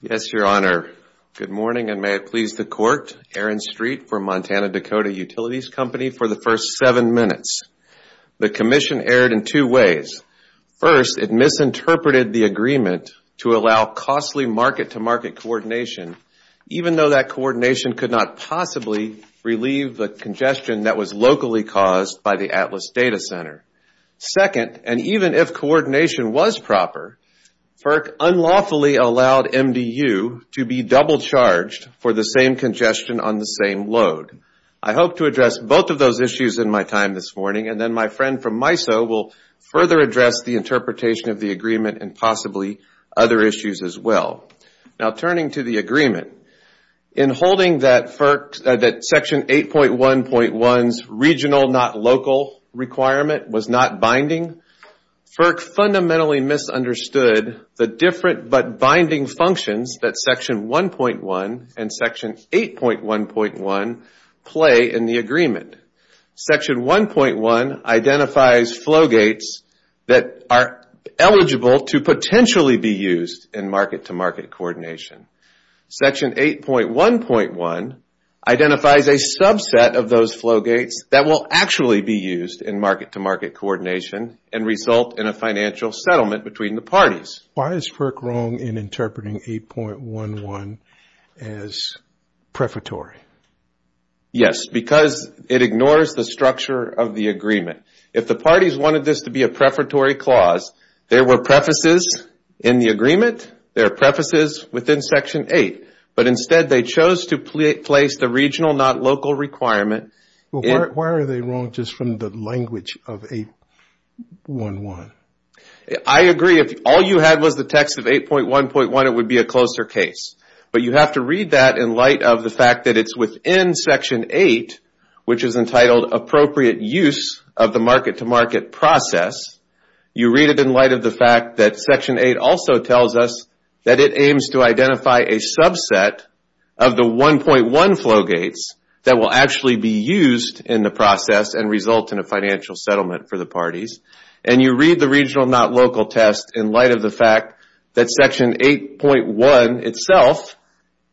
Yes, Your Honor. Good morning, and may it please the Court, Aaron Street for Montana-Dakota Utilities Company for the first seven minutes. The commission erred in two ways. First, it misinterpreted the agreement to allow costly market-to-market coordination, even though that coordination could not possibly relieve the congestion that was locally caused by the Atlas Data Center. Second, and even if coordination was proper, FERC unlawfully allowed MDU to be double-charged for the same congestion on the same load. I hope to address both of those issues in my time this morning, and then my friend from MISO will further address the interpretation of the agreement and possibly other issues as well. Now, turning to the agreement, in holding that FERC, that Section 8.1.1's regional not local requirement was not binding, FERC fundamentally misunderstood the different but binding functions that Section 1.1 and Section 8.1.1 play in the agreement. Section 1.1 identifies flowgates that are eligible to potentially be used in market-to-market coordination. Section 8.1.1 identifies a subset of those flowgates that will actually be used in market-to-market coordination and result in a financial settlement between the parties. Why is FERC wrong in interpreting 8.1.1 as prefatory? Yes, because it ignores the structure of the agreement. If the parties wanted this to be a prefatory clause, there were prefaces in the agreement, there are prefaces within Section 8, but instead they chose to place the regional not local requirement. Why are they wrong just from the language of 8.1.1? I agree. If all you had was the text of 8.1.1, it would be a closer case. But you have to read that in light of the fact that it's within Section 8, which is entitled appropriate use of the market-to-market process. You read it in light of the fact that Section 8 also tells us that it aims to identify a subset of the 1.1 flowgates that will actually be used in the process and result in a financial settlement for the parties. And you read the regional not local test in light of the fact that Section 8.1 itself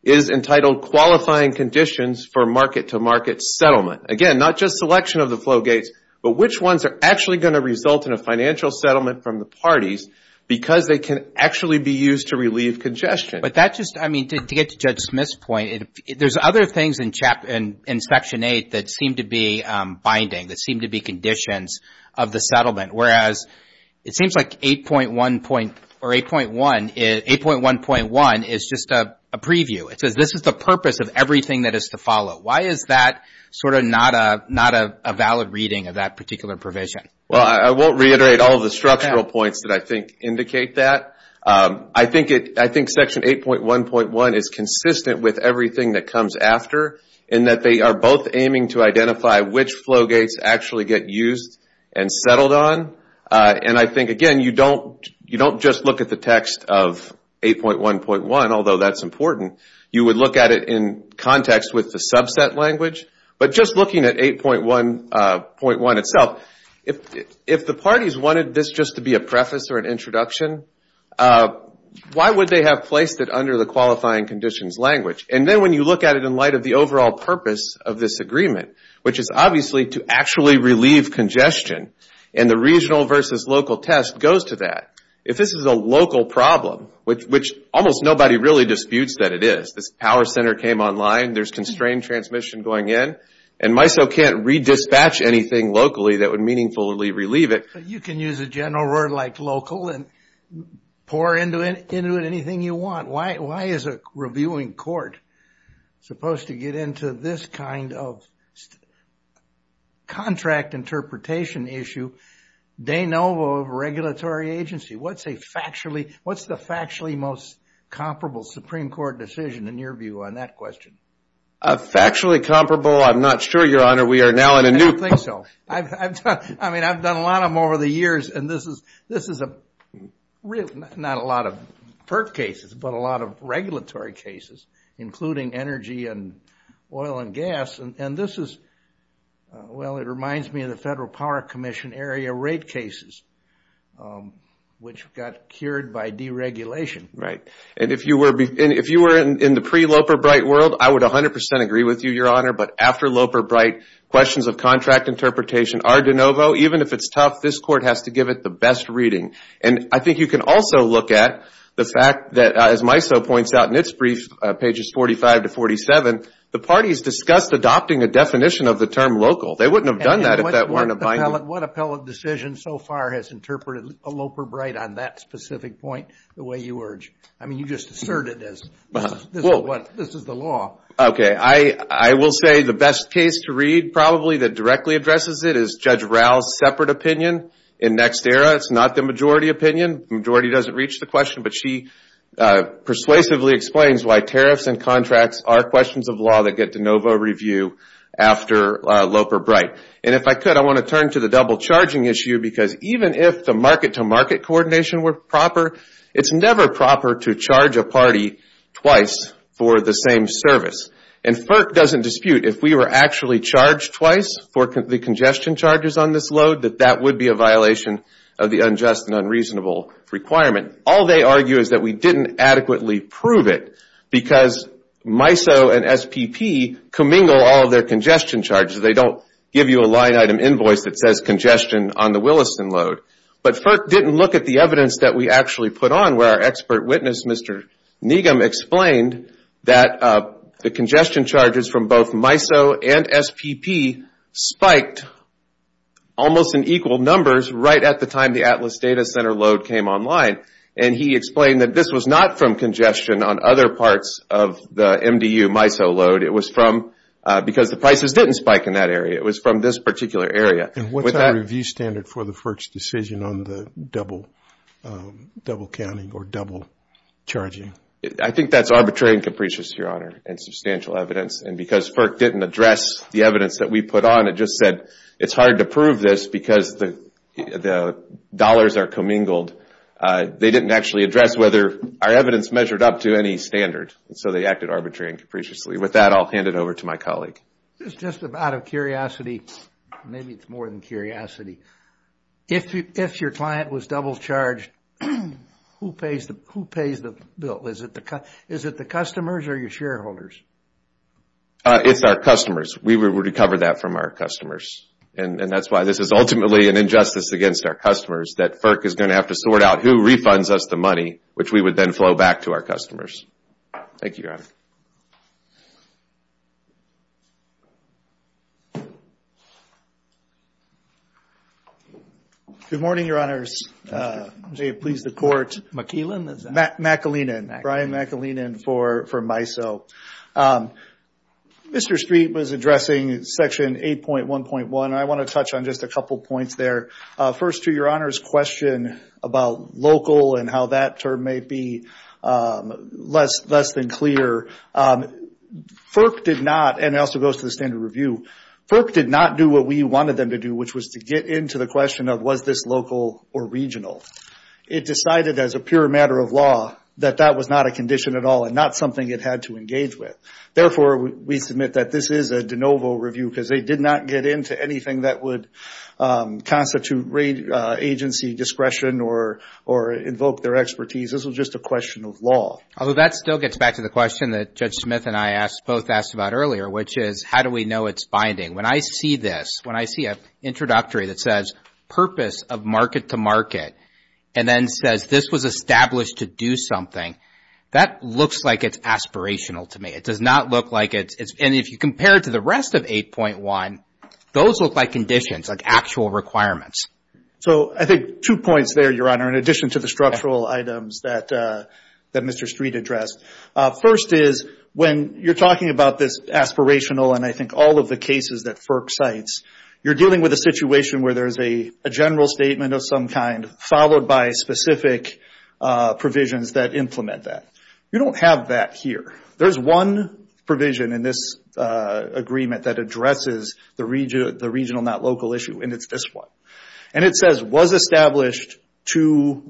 is entitled qualifying conditions for market-to-market settlement. Again, not just selection of the flowgates, but which ones are actually going to result in a financial settlement from the parties because they can actually be used to relieve congestion. But that just, I mean, to get to Judge Smith's point, there's other things in Section 8 that seem to be binding, that seem to be conditions of the settlement, whereas it seems like 8.1.1 is just a preview. It says this is the purpose of everything that is to follow. Why is that sort of not a valid reading of that particular provision? Well, I won't reiterate all of the structural points that I think indicate that. I think Section 8.1.1 is consistent with everything that comes after in that they are both aiming to identify which flowgates actually get used and settled on. And I think, again, you don't just look at the text of 8.1.1, although that's important. You would look at it in context with the subset language. But just looking at 8.1.1 itself, if the parties wanted this just to be a preface or an introduction, why would they have placed it under the qualifying conditions language? And then when you look at it in light of the overall purpose of this agreement, which is obviously to actually relieve congestion, and the regional versus local test goes to that, if this is a local problem, which almost nobody really disputes that it is, this power center came online, there's constrained transmission going in, and MISO can't re-dispatch anything locally that would meaningfully relieve it. You can use a general word like local and pour into it anything you want. Why is a reviewing court supposed to get into this kind of contract interpretation issue? De novo regulatory agency. What's the factually most comparable Supreme Court decision in your view on that question? Factually comparable? I'm not sure, Your Honor. We are now in a new- I don't think so. I mean, I've done a lot of them over the years, and this is not a lot of PERT cases, but a lot of regulatory cases, including energy and oil and gas. And this is, well, it reminds me of the Federal Power Commission area rate cases, which got cured by deregulation. Right. And if you were in the pre-Loper-Bright world, I would 100% agree with you, Your Honor, but after Loper-Bright, questions of contract interpretation are de novo. Even if it's tough, this court has to give it the best reading. And I think you can also look at the fact that, as MISO points out in its brief, pages 45 to 47, the parties discussed adopting a definition of the term local. They wouldn't have done that if that weren't a binding- What appellate decision so far has interpreted a Loper-Bright on that specific point the way you urge? I mean, you just asserted this. This is the law. Okay. I will say the best case to read, probably, that directly addresses it is Judge Rao's separate opinion in NextEra. It's not the majority opinion. Majority doesn't reach the question, but she persuasively explains why tariffs and contracts are questions of law that get de novo review after Loper-Bright. And if I could, I want to turn to the double-charging issue because even if the market-to-market coordination were proper, it's never proper to charge a party twice for the same service. And FERC doesn't dispute if we were actually charged twice for the congestion charges on this load, that that would be a violation of the unjust and unreasonable requirement. All they argue is that we didn't adequately prove it because MISO and SPP commingle all of their congestion charges. They don't give you a line-item invoice that says congestion on the Williston load. But FERC didn't look at the evidence that we actually put on where our expert witness, Mr. Negum, explained that the congestion charges from both MISO and SPP spiked almost in equal numbers right at the time the Atlas Data Center load came online. And he explained that this was not from congestion on other parts of the MDU MISO load. It was from, because the prices didn't spike in that area, it was from this particular area. And what's our review standard for the FERC's decision on the double counting or double charging? I think that's arbitrary and capricious, Your Honor, and substantial evidence. And because FERC didn't address the evidence that we put on, it just said it's hard to prove this because the dollars are commingled. They didn't actually address whether our evidence measured up to any standard. So they acted arbitrarily and capriciously. With that, I'll hand it over to my colleague. Just out of curiosity, maybe it's more than curiosity, if your client was double charged, who pays the bill? Is it the customers or your shareholders? It's our customers. We would recover that from our customers. And that's why this is ultimately an injustice against our customers that FERC is going to have to sort out who refunds us the money, which we would then flow back to our customers. Thank you, Your Honor. Good morning, Your Honors. Jay, please, the court. McKeelan? McKeelan. Brian McKeelan for MISO. Mr. Street was addressing Section 8.1.1. I want to touch on just a couple points there. First to Your Honor's question about local and how that term may be less than clear. FERC did not, and it also goes to the standard review, FERC did not do what we wanted them to do, which was to get into the question of was this local or regional. It decided as a pure matter of law that that was not a condition at all and not something it had to engage with. Therefore, we submit that this is a de novo review because they did not get into anything that would constitute agency discretion or invoke their expertise. This was just a question of law. Although that still gets back to the question that Judge Smith and I both asked about earlier, which is how do we know it's binding? When I see this, when I see an introductory that says purpose of market to market and then says this was established to do something, that looks like it's aspirational to me. It does not look like it's, and if you compare it to the rest of 8.1, those look like conditions, like actual requirements. So I think two points there, Your Honor, in addition to the structural items that Mr. Street addressed. First is when you're talking about this aspirational and I think all of the cases that FERC cites, you're dealing with a situation where there's a general statement of some kind followed by specific provisions that implement that. You don't have that here. There's one provision in this agreement that addresses the regional not local issue and it's this one. It says was established to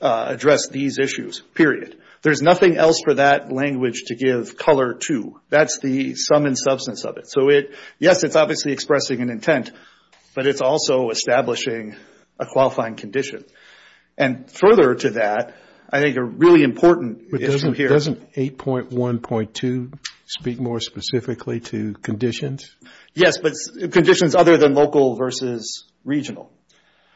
address these issues, period. There's nothing else for that language to give color to. That's the sum and substance of it. So yes, it's obviously expressing an intent, but it's also establishing a qualifying condition. And further to that, I think a really important issue here- But doesn't 8.1.2 speak more specifically to conditions? Yes, but conditions other than local versus regional.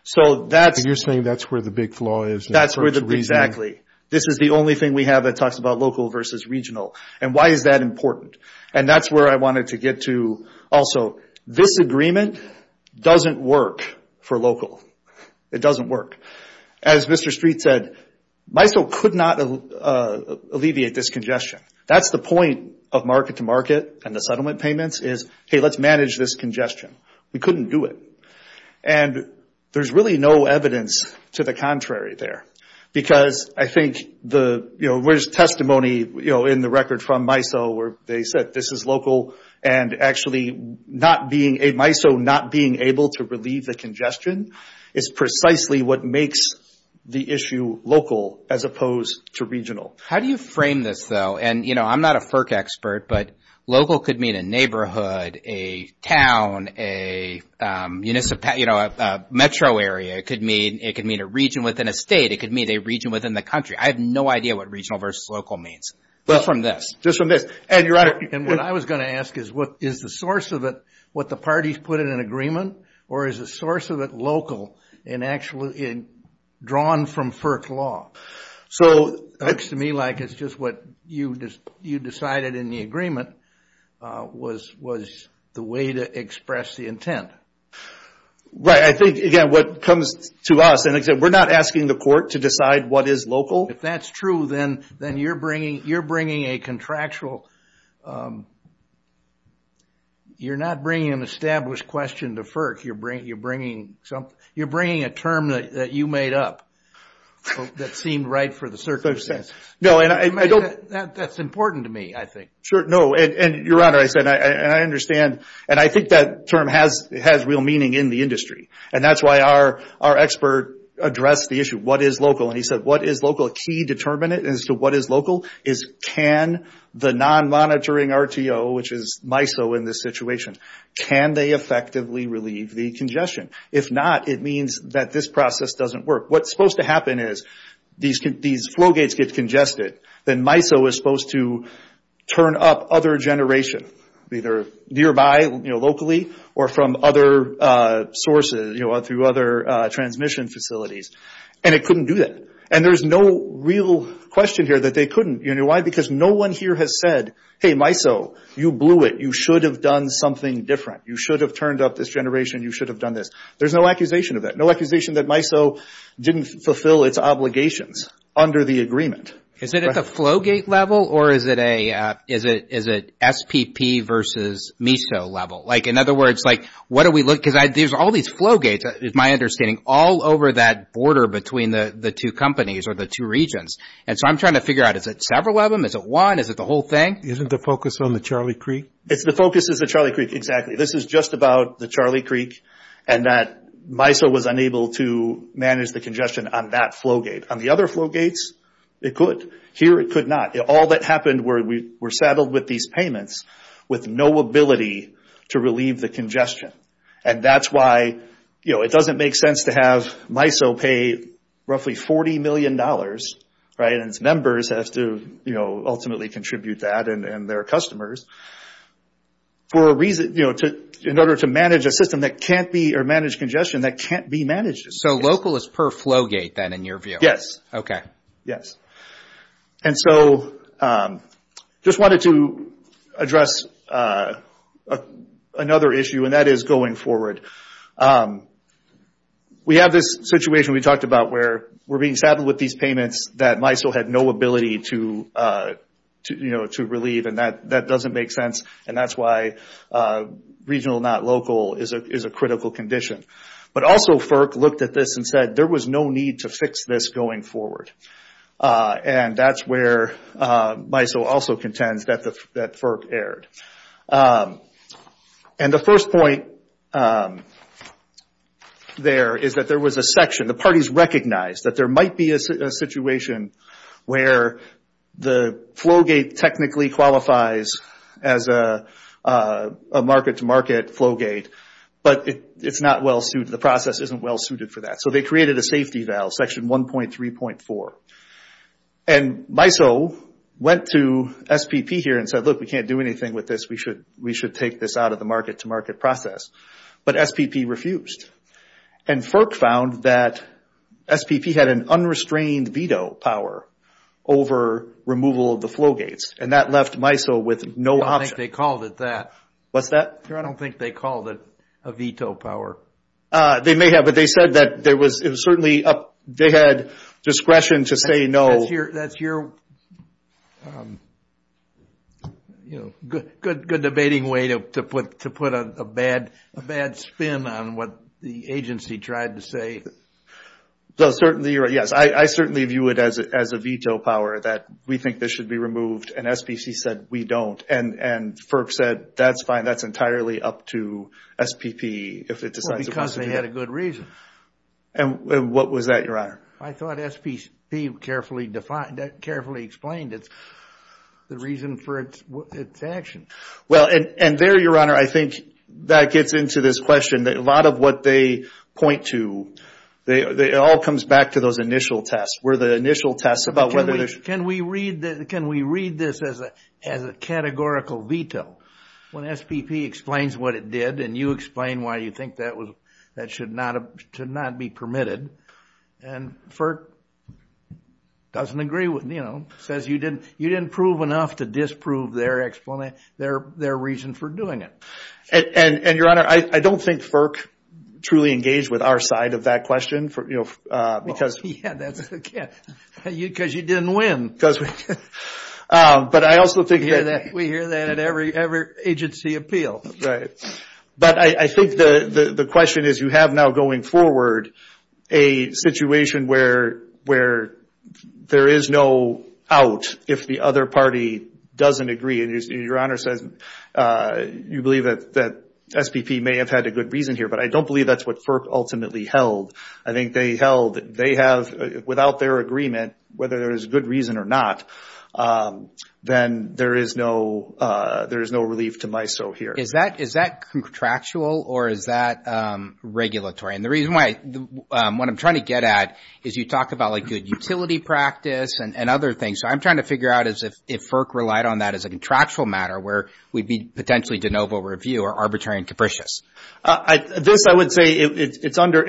So that's- And you're saying that's where the big flaw is in FERC's reasoning? Exactly. This is the only thing we have that talks about local versus regional. And why is that important? And that's where I wanted to get to also. This agreement doesn't work for local. It doesn't work. As Mr. Street said, MISO could not alleviate this congestion. That's the point of market to market and the settlement payments is, hey, let's manage this congestion. We couldn't do it. And there's really no evidence to the contrary there. Because I think the testimony in the record from MISO where they said this is local and actually MISO not being able to relieve the congestion is precisely what makes the issue local as opposed to regional. How do you frame this though? And I'm not a FERC expert, but local could mean a neighborhood, a town, a metro area. It could mean a region within a state. It could mean a region within the country. I have no idea what regional versus local means. Just from this. Just from this. And your Honor- And what I was going to ask is, is the source of it what the parties put in an agreement? Or is the source of it local and actually drawn from FERC law? So- It looks to me like it's just what you decided in the agreement was the way to express the intent. Right. I think, again, what comes to us, and we're not asking the court to decide what is local. If that's true, then you're bringing a contractual, you're not bringing an established question to FERC. You're bringing a term that you made up that seemed right for the circumstance. That's important to me, I think. Sure. No. And your Honor, I said, and I understand, and I think that term has real meaning in the industry. And that's why our expert addressed the issue. What is local? And he said, what is local? A key determinant as to what is local is can the non-monitoring RTO, which is MISO in this situation, can they effectively relieve the congestion? If not, it means that this process doesn't work. What's supposed to happen is these flow gates get congested, then MISO is supposed to turn up other generation, either nearby, locally, or from other sources, through other transmission facilities. And it couldn't do that. And there's no real question here that they couldn't. You know why? Because no one here has said, hey, MISO, you blew it. You should have done something different. You should have turned up this generation. You should have done this. There's no accusation of that. No accusation that MISO didn't fulfill its obligations under the agreement. Is it at the flow gate level or is it SPP versus MISO level? Like in other words, like what do we look – because there's all these flow gates, my understanding, all over that border between the two companies or the two regions. And so I'm trying to figure out, is it several of them? Is it one? Is it the whole thing? Isn't the focus on the Charlie Creek? The focus is the Charlie Creek, exactly. This is just about the Charlie Creek and that MISO was unable to manage the congestion on that flow gate. On the other flow gates, it could. Here it could not. All that happened were we were saddled with these payments with no ability to relieve the congestion. That's why it doesn't make sense to have MISO pay roughly $40 million and its members have to ultimately contribute that and their customers in order to manage a system that can't be – or manage congestion that can't be managed. So local is per flow gate then in your view? Okay. Yes. And so just wanted to address another issue and that is going forward. We have this situation we talked about where we're being saddled with these payments that MISO had no ability to relieve and that doesn't make sense and that's why regional not local is a critical condition. But also FERC looked at this and said there was no need to fix this going forward. And that's where MISO also contends that FERC erred. And the first point there is that there was a section, the parties recognized that there might be a situation where the flow gate technically qualifies as a market-to-market flow gate but it's not well-suited, the process isn't well-suited for that. So they created a safety valve, section 1.3.4. And MISO went to SPP here and said, look, we can't do anything with this. We should take this out of the market-to-market process. But SPP refused. And FERC found that SPP had an unrestrained veto power over removal of the flow gates and that left MISO with no option. I don't think they called it that. What's that? I don't think they called it a veto power. They may have, but they said that it was certainly up, they had discretion to say no. That's your, you know, good debating way to put a bad spin on what the agency tried to say. Yes, I certainly view it as a veto power that we think this should be removed and SPC said we don't. And FERC said that's fine. That's entirely up to SPP if it decides it wants to do that. Well, because they had a good reason. And what was that, Your Honor? I thought SPP carefully explained the reason for its action. Well, and there, Your Honor, I think that gets into this question. A lot of what they point to, it all comes back to those initial tests. Were the initial tests about whether there's... Can we read this as a categorical veto? When SPP explains what it did and you explain why you think that should not be permitted and FERC doesn't agree with, you know, says you didn't prove enough to disprove their explanation, their reason for doing it. And, Your Honor, I don't think FERC truly engaged with our side of that question because... Yeah, because you didn't win. But I also think that... We hear that at every agency appeal. Right. But I think the question is you have now going forward a situation where there is no out if the other party doesn't agree. And Your Honor says you believe that SPP may have had a good reason here. But I don't believe that's what FERC ultimately held. I think they held they have... Without their agreement, whether there is a good reason or not, then there is no relief to MISO here. Is that contractual or is that regulatory? And the reason why... What I'm trying to get at is you talked about like utility practice and other things. So I'm trying to figure out if FERC relied on that as a contractual matter where we'd be potentially de novo review or arbitrary and capricious. This I would say it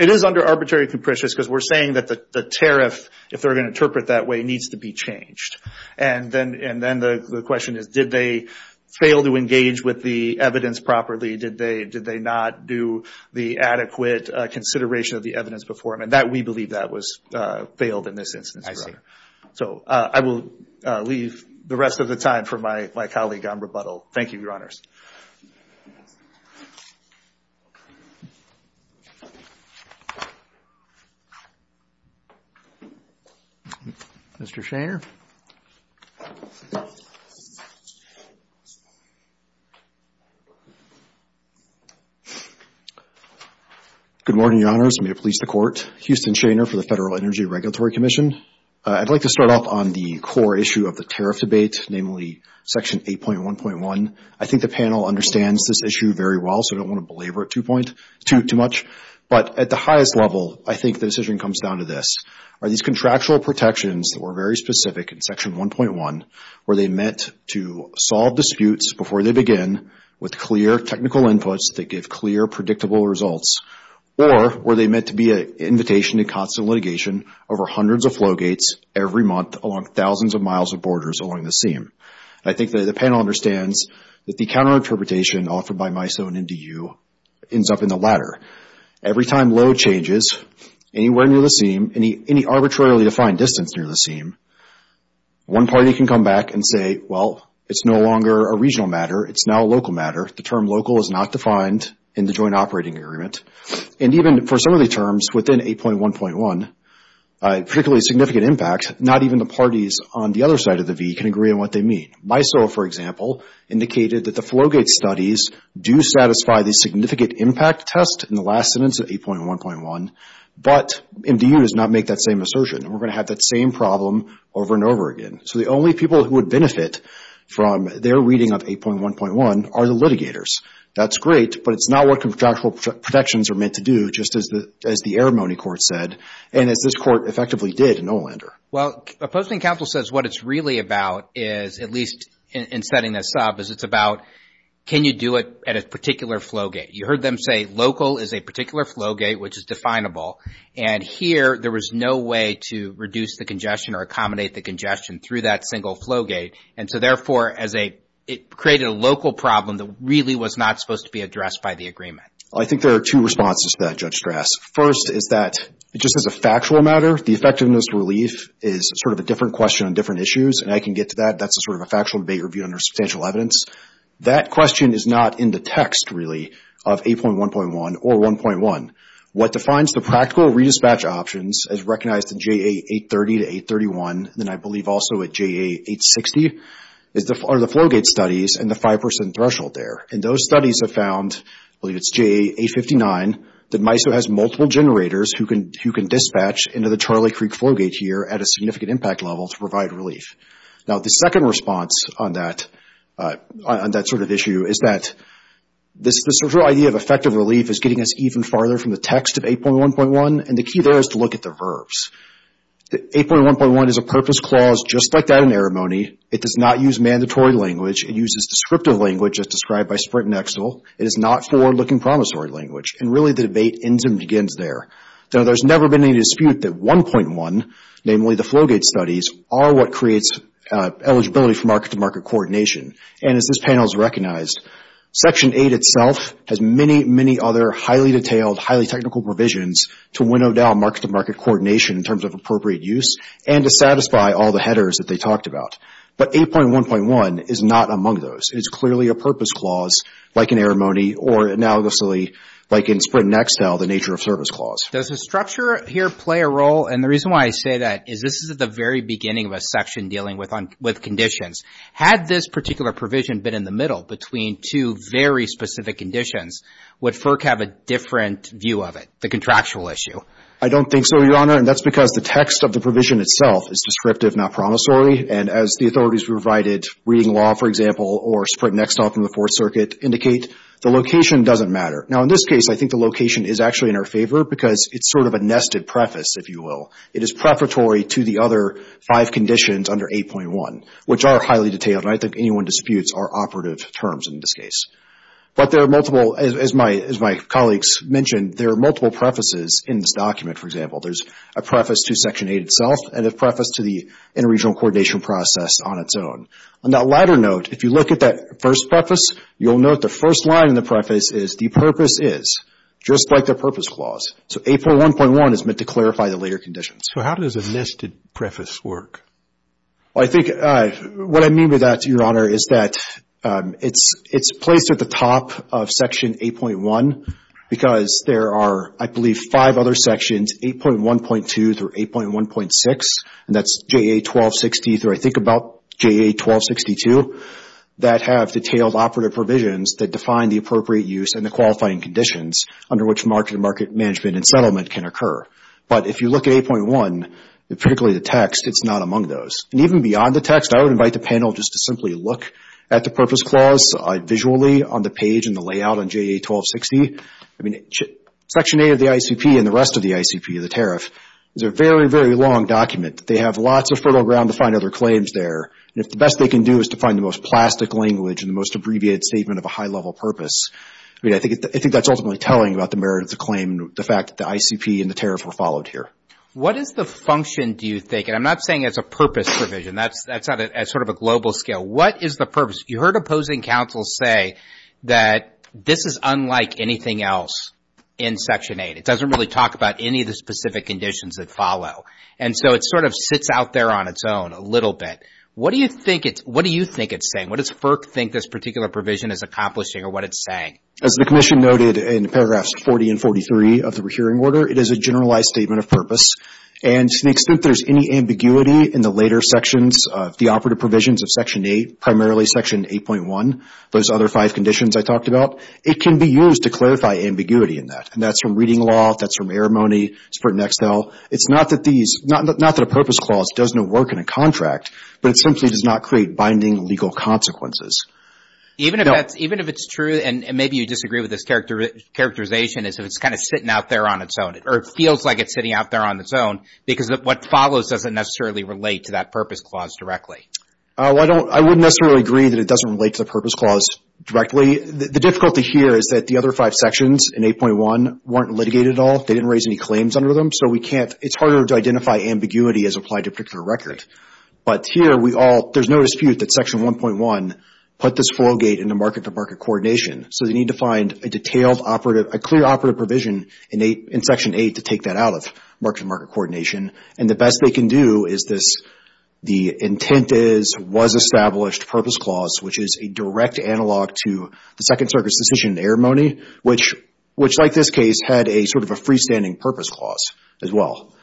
is under arbitrary and capricious because we're saying that the tariff, if they're going to interpret that way, needs to be changed. And then the question is did they fail to engage with the evidence properly? Did they not do the adequate consideration of the evidence before? And we believe that was failed in this instance, Your Honor. So I will leave the rest of the time for my colleague on rebuttal. Thank you, Your Honors. Thank you. Mr. Shaner. Good morning, Your Honors. May it please the Court. Houston Shaner for the Federal Energy Regulatory Commission. I'd like to start off on the core issue of the tariff debate, namely Section 8.1.1. I think the panel understands this issue very well, so I don't want to belabor it too much. But at the highest level, I think the decision comes down to this. Are these contractual protections that were very specific in Section 1.1 where they meant to solve disputes before they begin with clear technical inputs that give clear, predictable results? Or were they meant to be an invitation to constant litigation over hundreds of flow gates every month along thousands of miles of borders along the seam? I think that the panel understands that the counter-interpretation offered by MISO and NDU ends up in the latter. Every time load changes anywhere near the seam, any arbitrarily defined distance near the seam, one party can come back and say, well, it's no longer a regional matter. It's now a local matter. The term local is not defined in the joint operating agreement. And even for some of the terms within 8.1.1, particularly significant impact, not even the parties on the other side of the V can agree on what they mean. MISO, for example, indicated that the flow gate studies do satisfy the significant impact test in the last sentence of 8.1.1, but NDU does not make that same assertion. We're going to have that same problem over and over again. So the only people who would benefit from their reading of 8.1.1 are the litigators. That's great, but it's not what contractual protections are meant to do, just as the Arimony Court said and as this Court effectively did in Olander. Well, opposing counsel says what it's really about is, at least in setting that sub, is it's about can you do it at a particular flow gate. You heard them say local is a particular flow gate which is definable, and here there was no way to reduce the congestion or accommodate the congestion through that single flow gate. And so, therefore, it created a local problem that really was not supposed to be addressed by the agreement. I think there are two responses to that, Judge Strass. First is that, just as a factual matter, the effectiveness relief is sort of a different question on different issues, and I can get to that. That's sort of a factual debate reviewed under substantial evidence. That question is not in the text, really, of 8.1.1 or 1.1. What defines the practical redispatch options as recognized in JA 830 to 831, and I believe also at JA 860, are the flow gate studies and the 5% threshold there. And those studies have found, I believe it's JA 859, that MISO has multiple generators who can dispatch into the Charlie Creek flow gate here at a significant impact level to provide relief. Now, the second response on that sort of issue is that this idea of effective relief is getting us even farther from the text of 8.1.1, and the key there is to look at the verbs. 8.1.1 is a purpose clause just like that in Eremone. It does not use mandatory language. It uses descriptive language as described by Sprint and Excel. It is not forward-looking promissory language. And really the debate ends and begins there. Now, there's never been any dispute that 1.1, namely the flow gate studies, are what creates eligibility for market-to-market coordination. And as this panel has recognized, Section 8 itself has many, many other highly detailed, highly technical provisions to winnow down market-to-market coordination in terms of appropriate use and to satisfy all the headers that they talked about. But 8.1.1 is not among those. It's clearly a purpose clause like in Eremone or analogously like in Sprint and Excel, the nature of service clause. Does the structure here play a role? And the reason why I say that is this is at the very beginning of a section dealing with conditions. Had this particular provision been in the middle between two very specific conditions, would FERC have a different view of it, the contractual issue? I don't think so, Your Honor, and that's because the text of the provision itself is descriptive, not promissory. And as the authorities provided reading law, for example, or Sprint and Excel from the Fourth Circuit indicate, the location doesn't matter. Now, in this case, I think the location is actually in our favor because it's sort of a nested preface, if you will. It is preparatory to the other five conditions under 8.1, which are highly detailed, and I think anyone disputes are operative terms in this case. But there are multiple, as my colleagues mentioned, there are multiple prefaces in this document, for example. There's a preface to Section 8 itself and a preface to the interregional coordination process on its own. On that latter note, if you look at that first preface, you'll note the first line in the preface is, the purpose is, just like the purpose clause. So 8.1.1 is meant to clarify the later conditions. So how does a nested preface work? Well, I think what I mean by that, Your Honor, is that it's placed at the top of Section 8.1 because there are, I believe, five other sections, 8.1.2 through 8.1.6, and that's JA 1260 through, I think, about JA 1262, that have detailed operative provisions that define the appropriate use and the qualifying conditions under which market-to-market management and settlement can occur. But if you look at 8.1, particularly the text, it's not among those. And even beyond the text, I would invite the panel just to simply look at the purpose clause visually on the page and the layout on JA 1260. I mean, Section 8 of the ICP and the rest of the ICP, the tariff, is a very, very long document. They have lots of fertile ground to find other claims there. And if the best they can do is to find the most plastic language and the most abbreviated statement of a high-level purpose, I mean, I think that's ultimately telling about the merit of the claim and the fact that the ICP and the tariff were followed here. What is the function, do you think, and I'm not saying it's a purpose provision. That's at sort of a global scale. What is the purpose? You heard opposing counsel say that this is unlike anything else in Section 8. It doesn't really talk about any of the specific conditions that follow. And so it sort of sits out there on its own a little bit. What do you think it's saying? What does FERC think this particular provision is accomplishing or what it's saying? As the Commission noted in paragraphs 40 and 43 of the hearing order, it is a generalized statement of purpose. And to the extent there's any ambiguity in the later sections of the operative provisions of Section 8, primarily Section 8.1, those other five conditions I talked about, it can be used to clarify ambiguity in that. And that's from reading law. That's from air money. It's for Nextel. It's not that a purpose clause does no work in a contract, but it simply does not create binding legal consequences. Even if it's true and maybe you disagree with this characterization as if it's kind of sitting out there on its own or it feels like it's sitting out there on its own because what follows doesn't necessarily relate to that purpose clause directly. I wouldn't necessarily agree that it doesn't relate to the purpose clause directly. The difficulty here is that the other five sections in 8.1 weren't litigated at all. They didn't raise any claims under them. So we can't – it's harder to identify ambiguity as applied to a particular record. But here we all – there's no dispute that Section 1.1 put this foil gate into market-to-market coordination. So they need to find a detailed operative – a clear operative provision in Section 8 to take that out of market-to-market coordination. And the best they can do is this – the intent is was established purpose clause, which is a direct analog to the Second Circuit's decision in Eremone, which like this case had a sort of a freestanding purpose clause as well.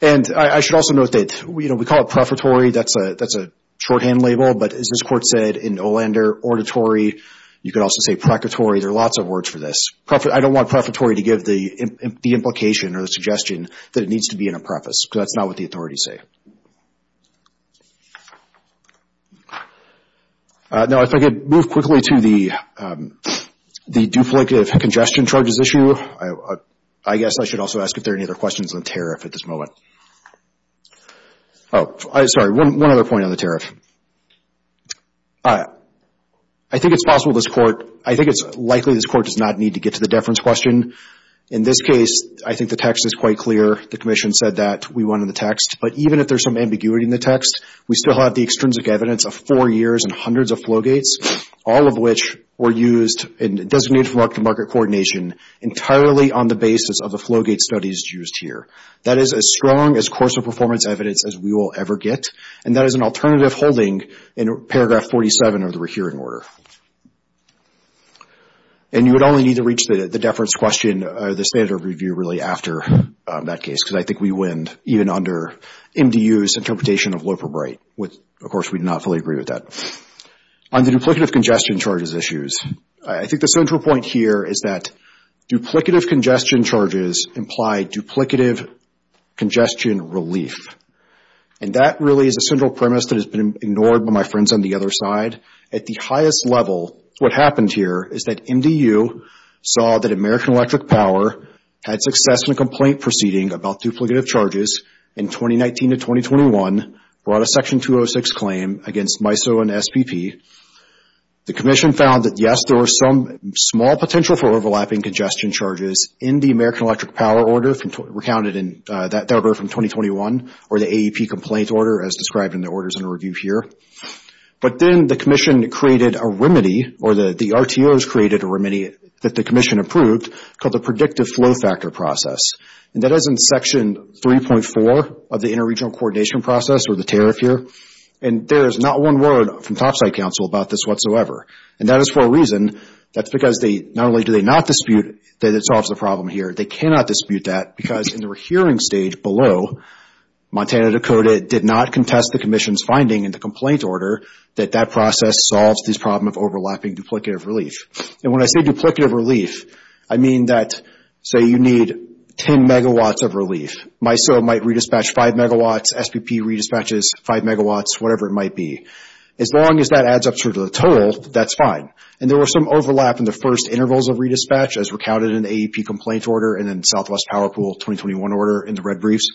And I should also note that we call it prefatory. That's a shorthand label. But as this Court said in Olander Auditory, you could also say precatory. There are lots of words for this. I don't want prefatory to give the implication or the suggestion that it needs to be in a preface because that's not what the authorities say. Now, if I could move quickly to the duplicative congestion charges issue. I guess I should also ask if there are any other questions on tariff at this moment. Oh, sorry, one other point on the tariff. I think it's possible this Court – I think it's likely this Court does not need to get to the deference question. In this case, I think the text is quite clear. The Commission said that we wanted the text. But even if there's some ambiguity in the text, we still have the extrinsic evidence of four years and hundreds of flowgates, all of which were used and designated for market-to-market coordination entirely on the basis of the flowgate studies used here. That is as strong as course-of-performance evidence as we will ever get. And that is an alternative holding in paragraph 47 of the rehearing order. And you would only need to reach the deference question, the standard review really, after that case because I think we win even under MDU's interpretation of Loeferbright, which, of course, we do not fully agree with that. On the duplicative congestion charges issues, I think the central point here is that duplicative congestion charges imply duplicative congestion relief. And that really is a central premise that has been ignored by my friends on the other side. At the highest level, what happened here is that MDU saw that American Electric Power had success in a complaint proceeding about duplicative charges in 2019 to 2021, brought a Section 206 claim against MISO and SPP. The Commission found that, yes, there was some small potential for overlapping congestion charges in the American Electric Power order recounted in that paragraph from 2021, or the AEP complaint order as described in the orders under review here. But then the Commission created a remedy, or the RTOs created a remedy that the Commission approved called the predictive flow factor process. And that is in Section 3.4 of the Interregional Coordination Process, or the tariff here. And there is not one word from Topside Council about this whatsoever. And that is for a reason. That's because not only do they not dispute that it solves the problem here, they cannot dispute that because in the hearing stage below, Montana, Dakota did not contest the Commission's finding in the complaint order that that process solves this problem of overlapping duplicative relief. And when I say duplicative relief, I mean that, say you need 10 megawatts of relief. MISO might redispatch 5 megawatts. SPP redispatches 5 megawatts, whatever it might be. As long as that adds up to the total, that's fine. And there was some overlap in the first intervals of redispatch, as recounted in the AEP complaint order and in Southwest Power Pool 2021 order in the red briefs.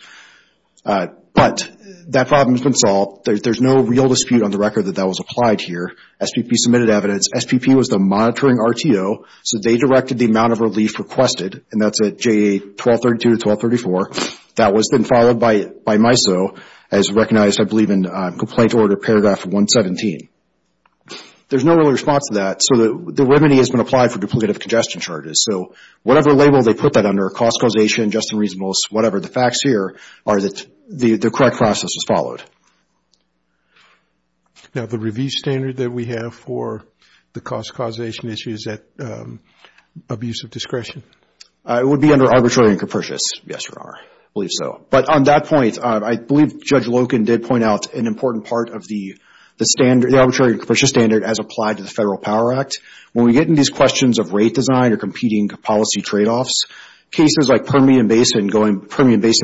But that problem has been solved. There's no real dispute on the record that that was applied here. SPP submitted evidence. SPP was the monitoring RTO, so they directed the amount of relief requested, and that's at JA 1232 to 1234. That has been followed by MISO as recognized, I believe, in complaint order paragraph 117. There's no real response to that, so the remedy has been applied for duplicative congestion charges. So whatever label they put that under, cost causation, just and reasonable, whatever, the facts here are that the correct process was followed. Now, the review standard that we have for the cost causation issue, is that abuse of discretion? It would be under arbitrary and capricious. Yes, Your Honor, I believe so. But on that point, I believe Judge Loken did point out an important part of the arbitrary and capricious standard as applied to the Federal Power Act. When we get into these questions of rate design or competing policy trade-offs, cases like Permian Basin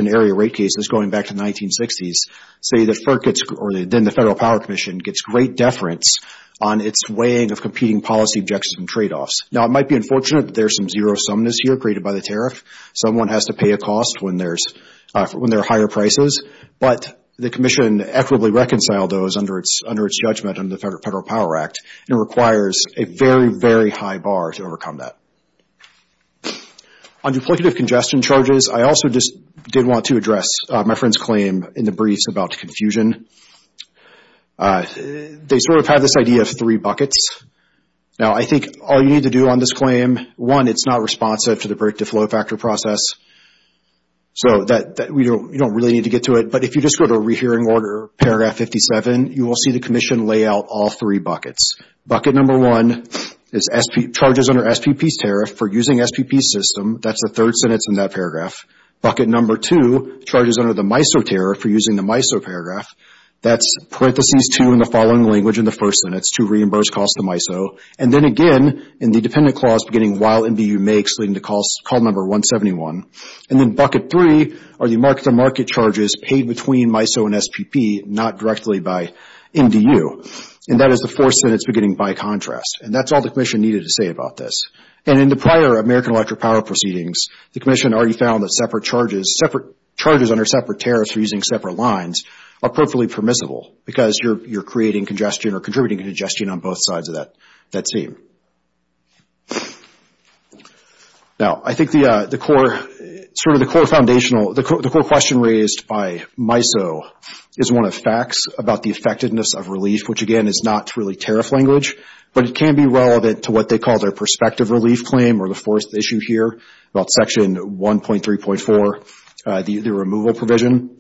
area rate cases going back to the 1960s, say that FERC gets, or then the Federal Power Commission, gets great deference on its weighing of competing policy objections and trade-offs. Now, it might be unfortunate, but there's some zero-sumness here created by the tariff. Someone has to pay a cost when there are higher prices, but the Commission equitably reconciled those under its judgment under the Federal Power Act, and requires a very, very high bar to overcome that. On duplicative congestion charges, I also just did want to address my friend's claim in the briefs about confusion. They sort of have this idea of three buckets. Now, I think all you need to do on this claim, one, it's not responsive to the break-to-flow factor process, so you don't really need to get to it. But if you just go to a rehearing order, paragraph 57, you will see the Commission lay out all three buckets. Bucket number one is charges under SPP's tariff for using SPP's system. That's the third sentence in that paragraph. Bucket number two, charges under the MISO tariff for using the MISO paragraph. That's parentheses two in the following language in the first sentence, to reimburse costs to MISO. And then again, in the dependent clause beginning while NDU makes, leading to call number 171. And then bucket three are the market-to-market charges paid between MISO and SPP, not directly by NDU. And that is the fourth sentence beginning by contrast. And that's all the Commission needed to say about this. And in the prior American Electric Power Proceedings, the Commission already found that separate charges, separate charges under separate tariffs for using separate lines, are perfectly permissible because you're creating congestion or contributing congestion on both sides of that seam. Now, I think the core, sort of the core foundational, the core question raised by MISO is one of facts about the effectiveness of relief, which, again, is not really tariff language. But it can be relevant to what they call their perspective relief claim or the fourth issue here about Section 1.3.4, the removal provision.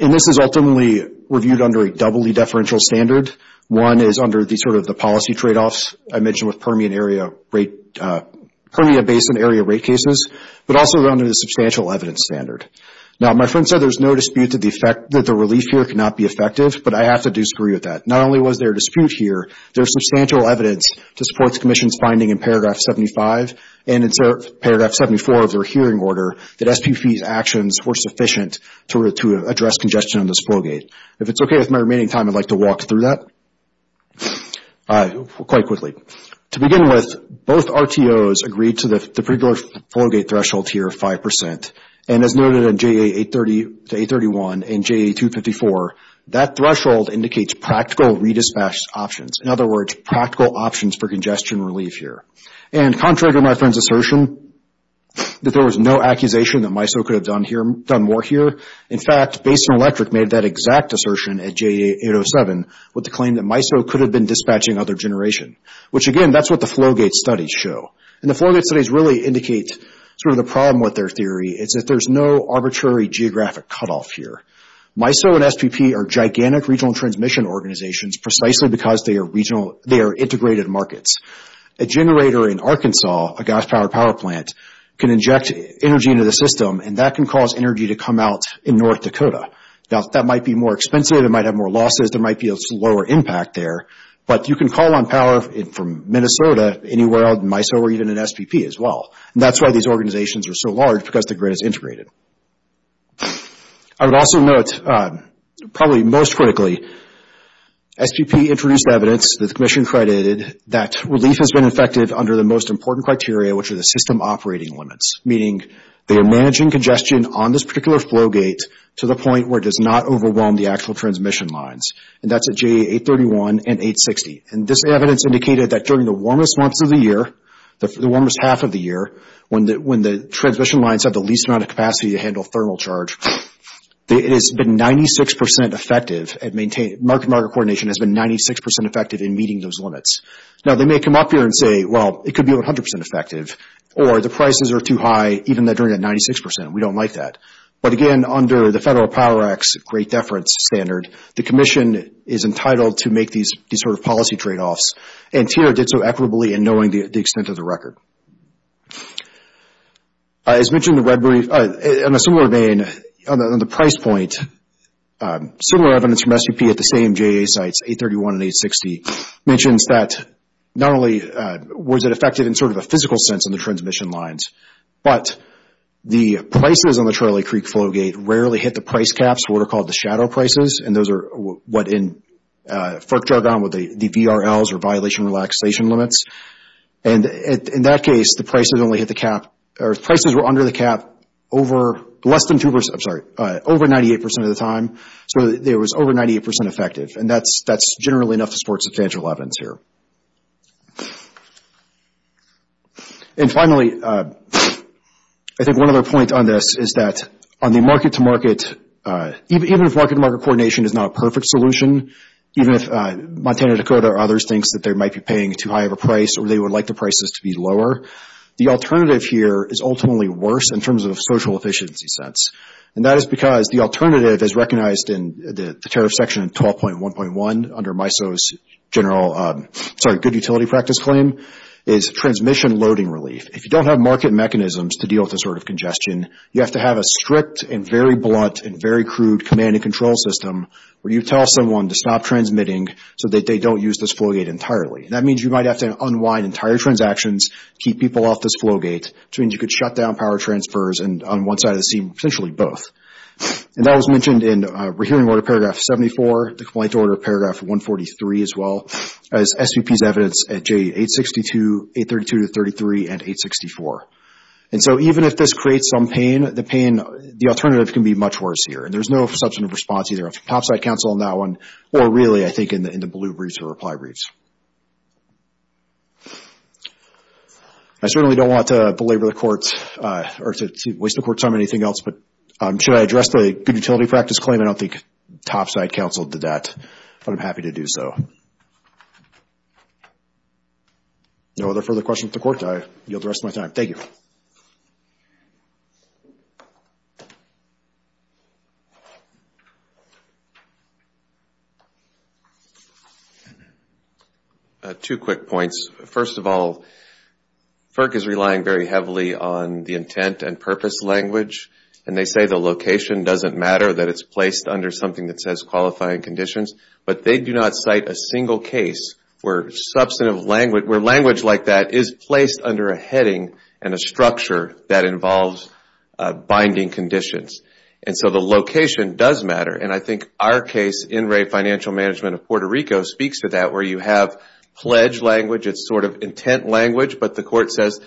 And this is ultimately reviewed under a doubly deferential standard. One is under the sort of the policy tradeoffs I mentioned with Permian Area Rate, Permian Basin Area Rate cases, but also under the substantial evidence standard. Now, my friend said there's no dispute that the relief here cannot be effective, but I have to disagree with that. Not only was there a dispute here, there's substantial evidence to support the Commission's finding in Paragraph 75 and in Paragraph 74 of their hearing order that SPP's actions were sufficient to address congestion on this flowgate. If it's okay with my remaining time, I'd like to walk through that quite quickly. To begin with, both RTOs agreed to the pre-board flowgate threshold here of 5%. And as noted in JA 830 to 831 and JA 254, that threshold indicates practical re-dispatch options. In other words, practical options for congestion relief here. And contrary to my friend's assertion that there was no accusation that MISO could have done more here, in fact, Basin Electric made that exact assertion at JA 807 with the claim that MISO could have been dispatching other generation. Which again, that's what the flowgate studies show. And the flowgate studies really indicate sort of the problem with their theory is that there's no arbitrary geographic cutoff here. MISO and SPP are gigantic regional transmission organizations precisely because they are integrated markets. A generator in Arkansas, a gas-powered power plant, can inject energy into the system and that can cause energy to come out in North Dakota. Now, that might be more expensive, it might have more losses, there might be a slower impact there. But you can call on power from Minnesota, anywhere else, MISO or even an SPP as well. And that's why these organizations are so large, because the grid is integrated. I would also note, probably most critically, SPP introduced evidence that the Commission credited that relief has been effective under the most important criteria, which are the system operating limits. Meaning, they are managing congestion on this particular flowgate to the point where it does not overwhelm the actual transmission lines. And that's at J831 and J860. And this evidence indicated that during the warmest months of the year, the warmest half of the year, when the transmission lines have the least amount of capacity to handle thermal charge, it has been 96% effective, market-to-market coordination has been 96% effective in meeting those limits. Now, they may come up here and say, well, it could be 100% effective, or the prices are too high, even during that 96%. We don't like that. But again, under the Federal Power Act's Great Deference Standard, the Commission is entitled to make these sort of policy tradeoffs. And TIRA did so equitably in knowing the extent of the record. As mentioned, on a similar vein, on the price point, similar evidence from SPP at the same JA sites, J831 and J860, mentions that not only was it effective in sort of a physical sense in the transmission lines, but the prices on the Charlie Creek flowgate rarely hit the price caps, what are called the shadow prices. And those are what, in FERC jargon, what the VRLs are, violation relaxation limits. And in that case, the prices only hit the cap, or prices were under the cap over less than 2%, I'm sorry, over 98% of the time. So it was over 98% effective. And that's generally enough to support substantial evidence here. And finally, I think one other point on this is that on the market-to-market, even if market-to-market coordination is not a perfect solution, even if Montana, Dakota, or others thinks that they might be paying too high of a price or they would like the prices to be lower, the alternative here is ultimately worse in terms of social efficiency sense. And that is because the alternative, as recognized in the tariff section in 12.1.1 under MISO's good utility practice claim, is transmission loading relief. If you don't have market mechanisms to deal with this sort of congestion, you have to have a strict and very blunt and very crude command and control system where you tell someone to stop transmitting so that they don't use this flowgate entirely. And that means you might have to unwind entire transactions, keep people off this flowgate, which means you could shut down power transfers on one side of the seam, potentially both. And that was mentioned in Rehearing Order Paragraph 74, the Complaint Order Paragraph 143 as well, as SVP's evidence at J862, 832-33, and 864. And so even if this creates some pain, the alternative can be much worse here. And there's no substantive response either from Topside Counsel on that one or really, I think, in the blue briefs or reply briefs. I certainly don't want to belabor the Court's or to waste the Court's time on anything else, but should I address the good utility practice claim? I don't think Topside Counsel did that, but I'm happy to do so. No other further questions to the Court? I yield the rest of my time. Thank you. Two quick points. First of all, FERC is relying very heavily on the intent and purpose language, and they say the location doesn't matter, that it's placed under something that says qualifying conditions, but they do not cite a single case where language like that is placed under a heading and a structure that involves binding conditions. And so the location does matter, and I think our case, In Re Financial Management of Puerto Rico, speaks to that, where you have pledge language, it's sort of intent language, but the Court says,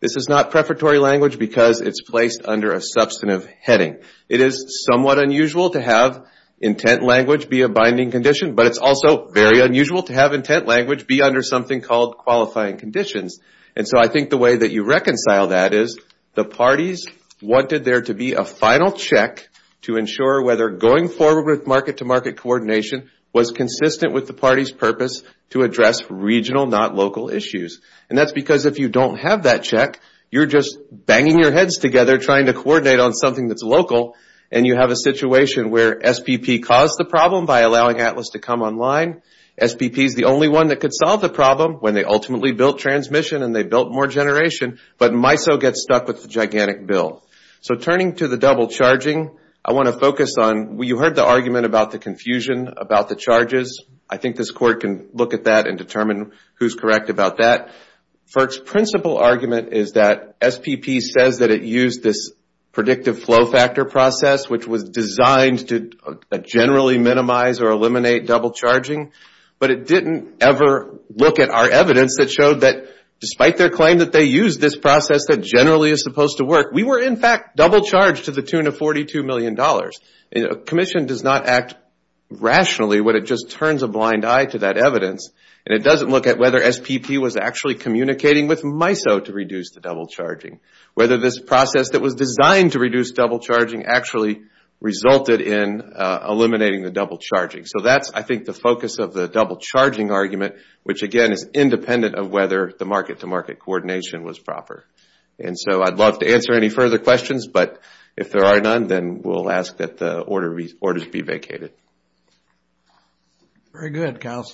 this is not prefatory language because it's placed under a substantive heading. It is somewhat unusual to have intent language be a binding condition, but it's also very unusual to have intent language be under something called qualifying conditions. And so I think the way that you reconcile that is the parties wanted there to be a final check to ensure whether going forward with market-to-market coordination was consistent with the party's purpose to address regional, not local, issues. And that's because if you don't have that check, you're just banging your heads together trying to coordinate on something that's local, and you have a situation where SPP caused the problem by allowing Atlas to come online. SPP's the only one that could solve the problem when they ultimately built transmission and they built more generation, but MISO gets stuck with the gigantic bill. So turning to the double charging, I want to focus on, you heard the argument about the confusion about the charges. I think this Court can look at that and determine who's correct about that. FERC's principal argument is that SPP says that it used this predictive flow factor process which was designed to generally minimize or eliminate double charging, but it didn't ever look at our evidence that showed that despite their claim that they used this process that generally is supposed to work, we were in fact double charged to the tune of $42 million. A commission does not act rationally when it just turns a blind eye to that evidence, and it doesn't look at whether SPP was actually communicating with MISO to reduce the double charging. Whether this process that was designed to reduce double charging actually resulted in eliminating the double charging. So that's, I think, the focus of the double charging argument, which again is independent of whether the market-to-market coordination was proper. And so I'd love to answer any further questions, but if there are none, then we'll ask that the order be vacated. Very good, counsel.